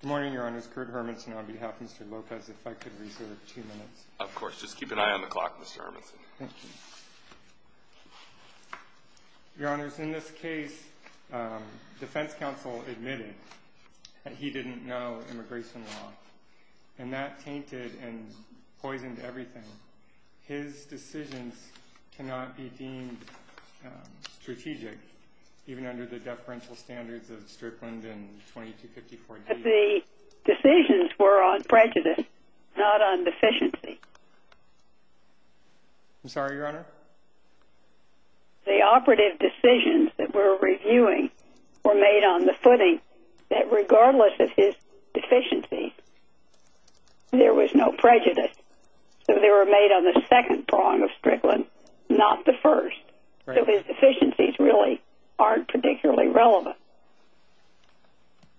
Good morning, Your Honors. Kurt Hermanson on behalf of Mr. Lopez, if I could reserve two minutes. Of course. Just keep an eye on the clock, Mr. Hermanson. Thank you. Your Honors, in this case, defense counsel admitted that he didn't know immigration law, and that tainted and poisoned everything. His decisions cannot be deemed strategic, even under the deferential standards of Strickland and 2254-D. The decisions were on prejudice, not on deficiency. I'm sorry, Your Honor? The operative decisions that we're reviewing were made on the footing that regardless of his deficiency, there was no prejudice. So they were made on the second prong of Strickland, not the first. So his deficiencies really aren't particularly relevant.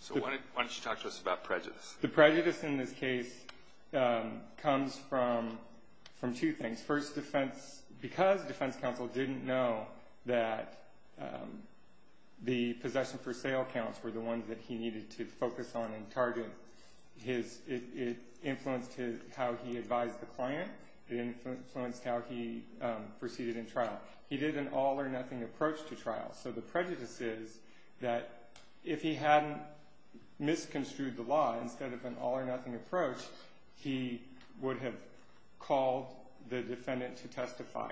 So why don't you talk to us about prejudice? The prejudice in this case comes from two things. First, because defense counsel didn't know that the possession for sale counts were the ones that he needed to focus on and target, it influenced how he advised the client. It influenced how he proceeded in trial. He did an all-or-nothing approach to trial. So the prejudice is that if he hadn't misconstrued the law instead of an all-or-nothing approach, he would have called the defendant to testify.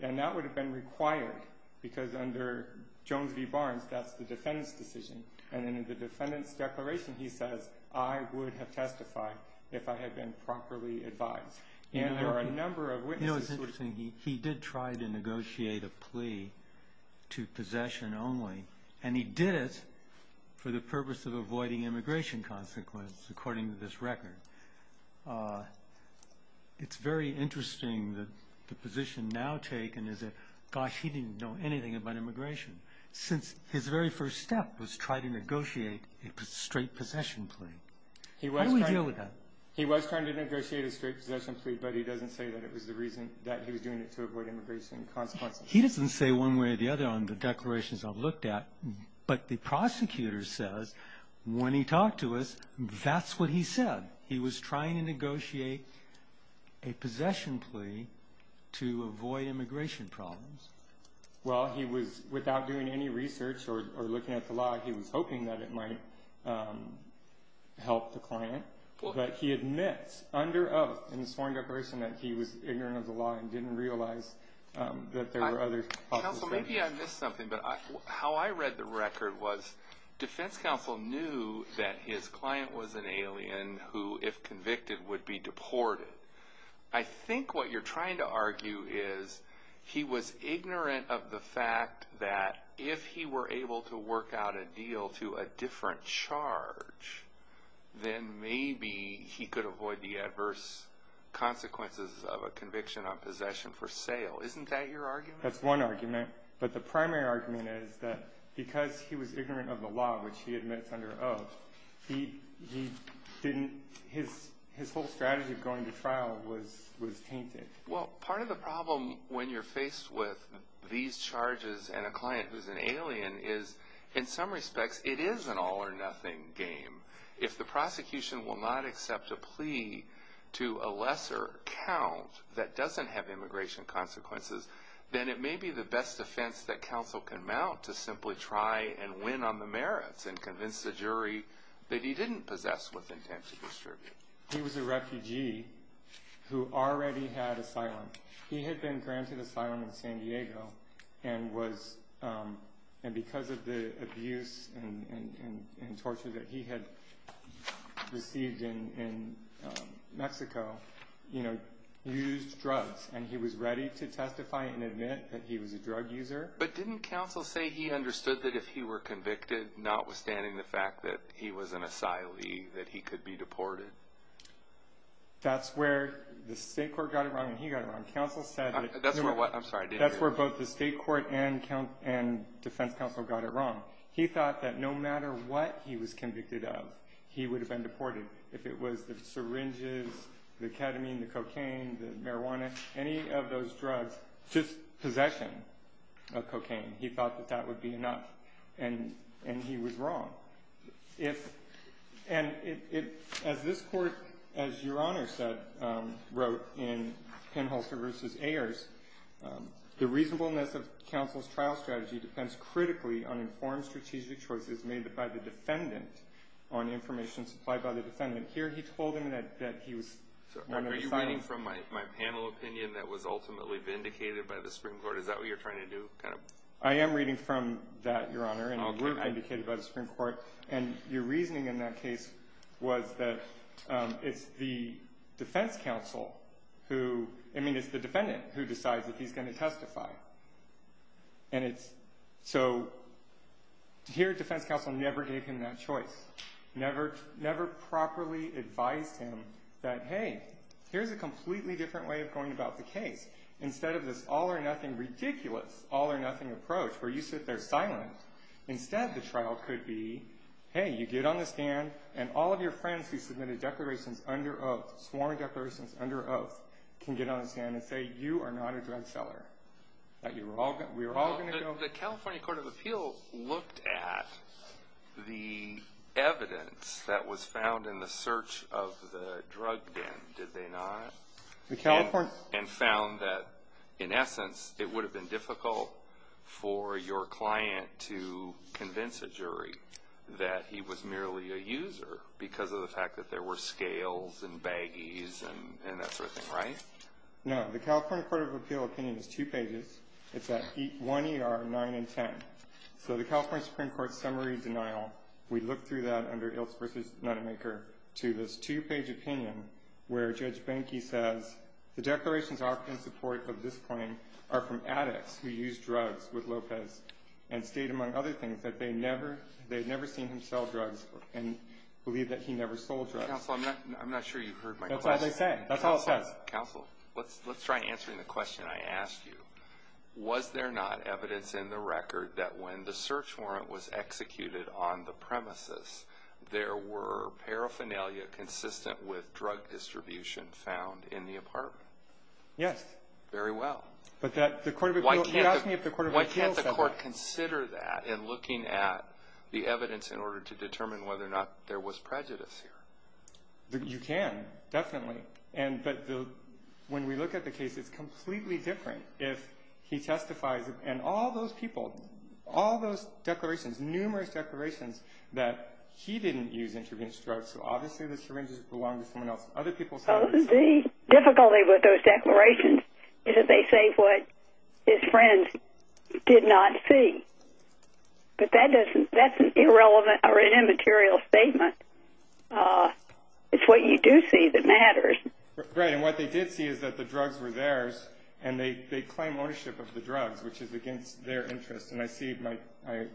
And that would have been required, because under Jones v. Barnes, that's the defendant's decision. And in the defendant's declaration, he says, I would have testified if I had been properly advised. You know, it's interesting. He did try to negotiate a plea to possession only, and he did it for the purpose of avoiding immigration consequences, according to this record. It's very interesting that the position now taken is that, gosh, he didn't know anything about immigration, since his very first step was try to negotiate a straight possession plea. How do we deal with that? He was trying to negotiate a straight possession plea, but he doesn't say that it was the reason that he was doing it to avoid immigration consequences. He doesn't say one way or the other on the declarations I've looked at, but the prosecutor says when he talked to us, that's what he said. He was trying to negotiate a possession plea to avoid immigration problems. Well, he was, without doing any research or looking at the law, he was hoping that it might help the client. But he admits under oath in the sworn declaration that he was ignorant of the law and didn't realize that there were other possible things. Counsel, maybe I missed something, but how I read the record was defense counsel knew that his client was an alien who, if convicted, would be deported. I think what you're trying to argue is he was ignorant of the fact that if he were able to work out a deal to a different charge, then maybe he could avoid the adverse consequences of a conviction on possession for sale. Isn't that your argument? That's one argument, but the primary argument is that because he was ignorant of the law, which he admits under oath, his whole strategy of going to trial was tainted. Well, part of the problem when you're faced with these charges and a client who's an alien is, in some respects, it is an all or nothing game. If the prosecution will not accept a plea to a lesser count that doesn't have immigration consequences, then it may be the best defense that counsel can mount to simply try and win on the merits and convince the jury that he didn't possess with intent to distribute. He was a refugee who already had asylum. He had been granted asylum in San Diego and because of the abuse and torture that he had received in Mexico, used drugs, and he was ready to testify and admit that he was a drug user. But didn't counsel say he understood that if he were convicted, notwithstanding the fact that he was an asylee, that he could be deported? That's where the state court got it wrong and he got it wrong. That's where both the state court and defense counsel got it wrong. He thought that no matter what he was convicted of, he would have been deported if it was the syringes, the ketamine, the cocaine, the marijuana, any of those drugs, just possession of cocaine. He thought that that would be enough and he was wrong. And as this court, as Your Honor said, wrote in Penholzer v. Ayers, the reasonableness of counsel's trial strategy depends critically on informed strategic choices made by the defendant on information supplied by the defendant. Here he told him that he was going to decide. Are you reading from my panel opinion that was ultimately vindicated by the Supreme Court? Is that what you're trying to do? I am reading from that, Your Honor, and it was vindicated by the Supreme Court. And your reasoning in that case was that it's the defense counsel who – I mean it's the defendant who decides that he's going to testify. And it's – so here defense counsel never gave him that choice, never properly advised him that, hey, here's a completely different way of going about the case. Instead of this all-or-nothing, ridiculous, all-or-nothing approach where you sit there silent, instead the trial could be, hey, you get on the stand, and all of your friends who submitted declarations under oath, sworn declarations under oath, can get on the stand and say you are not a drug seller, that we are all going to go – The California Court of Appeal looked at the evidence that was found in the search of the drug den, did they not? The California – And found that, in essence, it would have been difficult for your client to convince a jury that he was merely a user because of the fact that there were scales and baggies and that sort of thing, right? No. The California Court of Appeal opinion is two pages. It's at 1er, 9, and 10. So the California Supreme Court summary denial, we looked through that under Ilse v. Notemaker to this two-page opinion where Judge Benke says the declarations offering support of this claim are from addicts who used drugs with Lopez and state, among other things, that they had never seen him sell drugs and believe that he never sold drugs. Counsel, I'm not sure you heard my question. That's all they said. That's all it says. Counsel, let's try answering the question I asked you. Was there not evidence in the record that when the search warrant was executed on the premises, there were paraphernalia consistent with drug distribution found in the apartment? Yes. Very well. But the Court of Appeal – Why can't the court consider that in looking at the evidence in order to determine whether or not there was prejudice here? You can, definitely. But when we look at the case, it's completely different if he testifies and all those people, all those declarations, numerous declarations, that he didn't use intravenous drugs, so obviously the syringes belonged to someone else. Other people saw them. The difficulty with those declarations is that they say what his friends did not see. But that's an irrelevant or an immaterial statement. It's what you do see that matters. Right. And what they did see is that the drugs were theirs, and they claim ownership of the drugs, which is against their interest, and I see my – I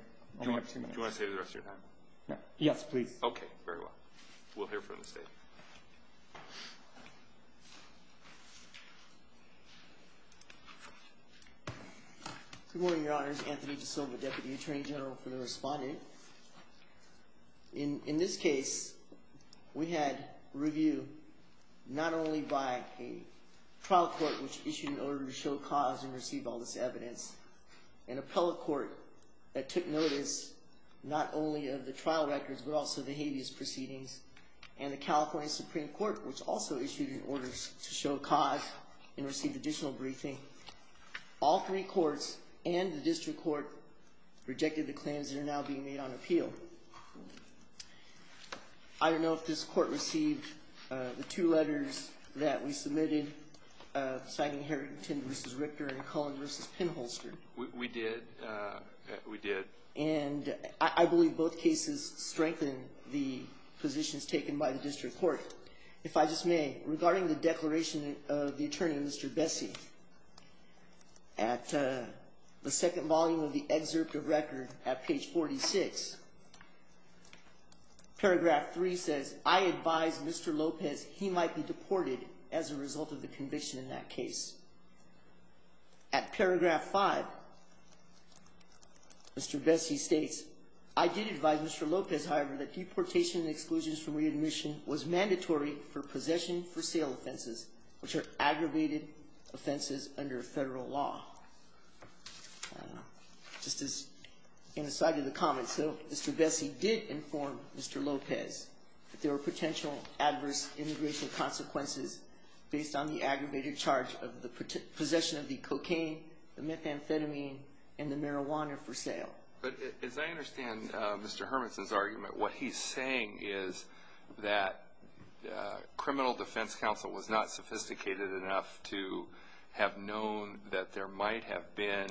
only have two minutes. Do you want to stay for the rest of your time? Yes, please. Okay, very well. We'll hear from the State. Good morning, Your Honors. Anthony DeSilva, Deputy Attorney General for the Respondent. In this case, we had review not only by a trial court, which issued an order to show cause and receive all this evidence, an appellate court that took notice not only of the trial records but also the habeas proceedings, and the California Supreme Court, which also issued an order to show cause and receive additional briefing. All three courts and the district court rejected the claims that are now being made on appeal. I don't know if this court received the two letters that we submitted, signing Harrington v. Richter and Cullen v. Penholster. We did. We did. And I believe both cases strengthened the positions taken by the district court. If I just may, regarding the declaration of the attorney, Mr. Bessie, at the second volume of the excerpt of record at page 46, paragraph 3 says, I advise Mr. Lopez he might be deported as a result of the conviction in that case. At paragraph 5, Mr. Bessie states, I did advise Mr. Lopez, however, that deportation and exclusions from readmission was mandatory for possession for sale offenses, which are aggravated offenses under federal law. Just as an aside to the comment, so Mr. Bessie did inform Mr. Lopez that there were potential adverse immigration consequences based on the aggravated charge of the possession of the cocaine, the methamphetamine, and the marijuana for sale. But as I understand Mr. Hermanson's argument, what he's saying is that criminal defense counsel was not sophisticated enough to have known that there might have been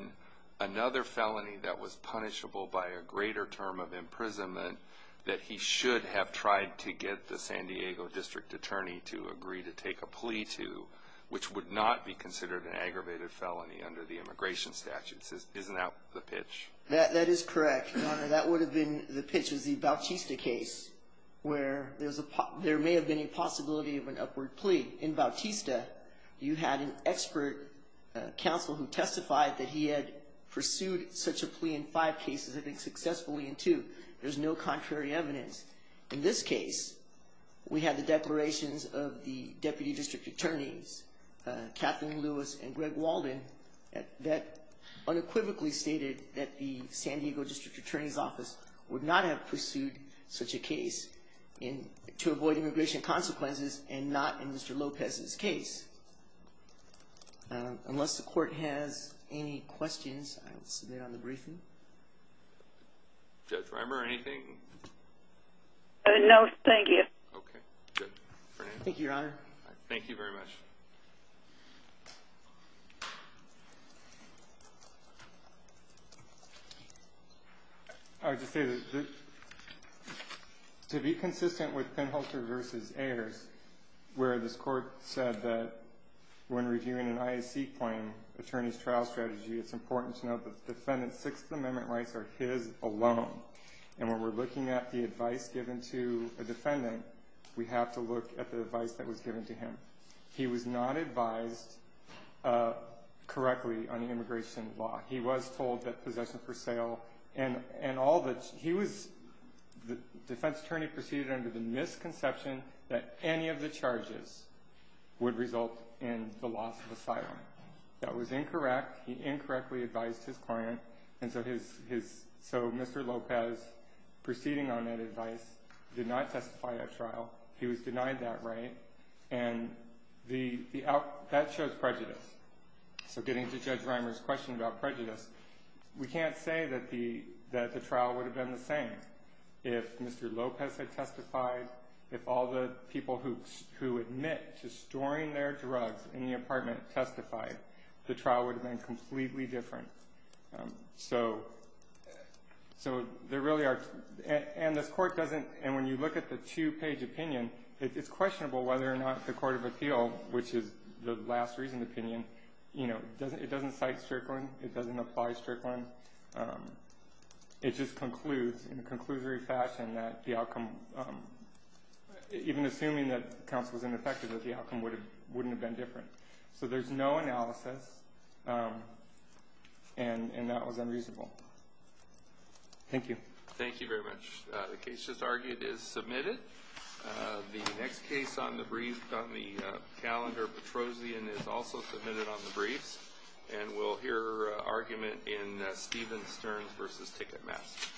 another felony that was punishable by a greater term of imprisonment that he should have tried to get the San Diego district attorney to agree to take a plea to, which would not be considered an aggravated felony under the immigration statutes. That is correct, Your Honor. That would have been, the pitch was the Bautista case, where there may have been a possibility of an upward plea. In Bautista, you had an expert counsel who testified that he had pursued such a plea in five cases, I think successfully in two. There's no contrary evidence. In this case, we had the declarations of the deputy district attorneys, Kathleen Lewis and Greg Walden, that unequivocally stated that the San Diego district attorney's office would not have pursued such a case to avoid immigration consequences and not in Mr. Lopez's case. Unless the court has any questions, I will submit on the briefing. Judge Reimer, anything? No, thank you. Okay, good. Thank you, Your Honor. Thank you very much. I would just say that to be consistent with Penhalter v. Ayers, where this court said that when reviewing an IAC claim attorney's trial strategy, it's important to note that the defendant's Sixth Amendment rights are his alone. And when we're looking at the advice given to a defendant, we have to look at the advice that was given to him. He was not advised correctly on immigration law. He was told that possession for sale and all the... He was... The defense attorney proceeded under the misconception that any of the charges would result in the loss of asylum. That was incorrect. He incorrectly advised his client. And so Mr. Lopez, proceeding on that advice, did not testify at trial. He was denied that right. And that shows prejudice. So getting to Judge Reimer's question about prejudice, we can't say that the trial would have been the same. If Mr. Lopez had testified, if all the people who admit to storing their drugs in the apartment testified, the trial would have been completely different. So there really are... And this court doesn't... And when you look at the two-page opinion, it's questionable whether or not the court of appeal, which is the last reason opinion, you know, it doesn't cite Strickland. It doesn't apply Strickland. It just concludes in a conclusory fashion that the outcome, even assuming that counsel is ineffective, that the outcome wouldn't have been different. So there's no analysis, and that was unreasonable. Thank you. Thank you very much. The case just argued is submitted. The next case on the calendar, Petrosian, is also submitted on the briefs, and we'll hear argument in Stevens-Stearns v. Ticketmaster.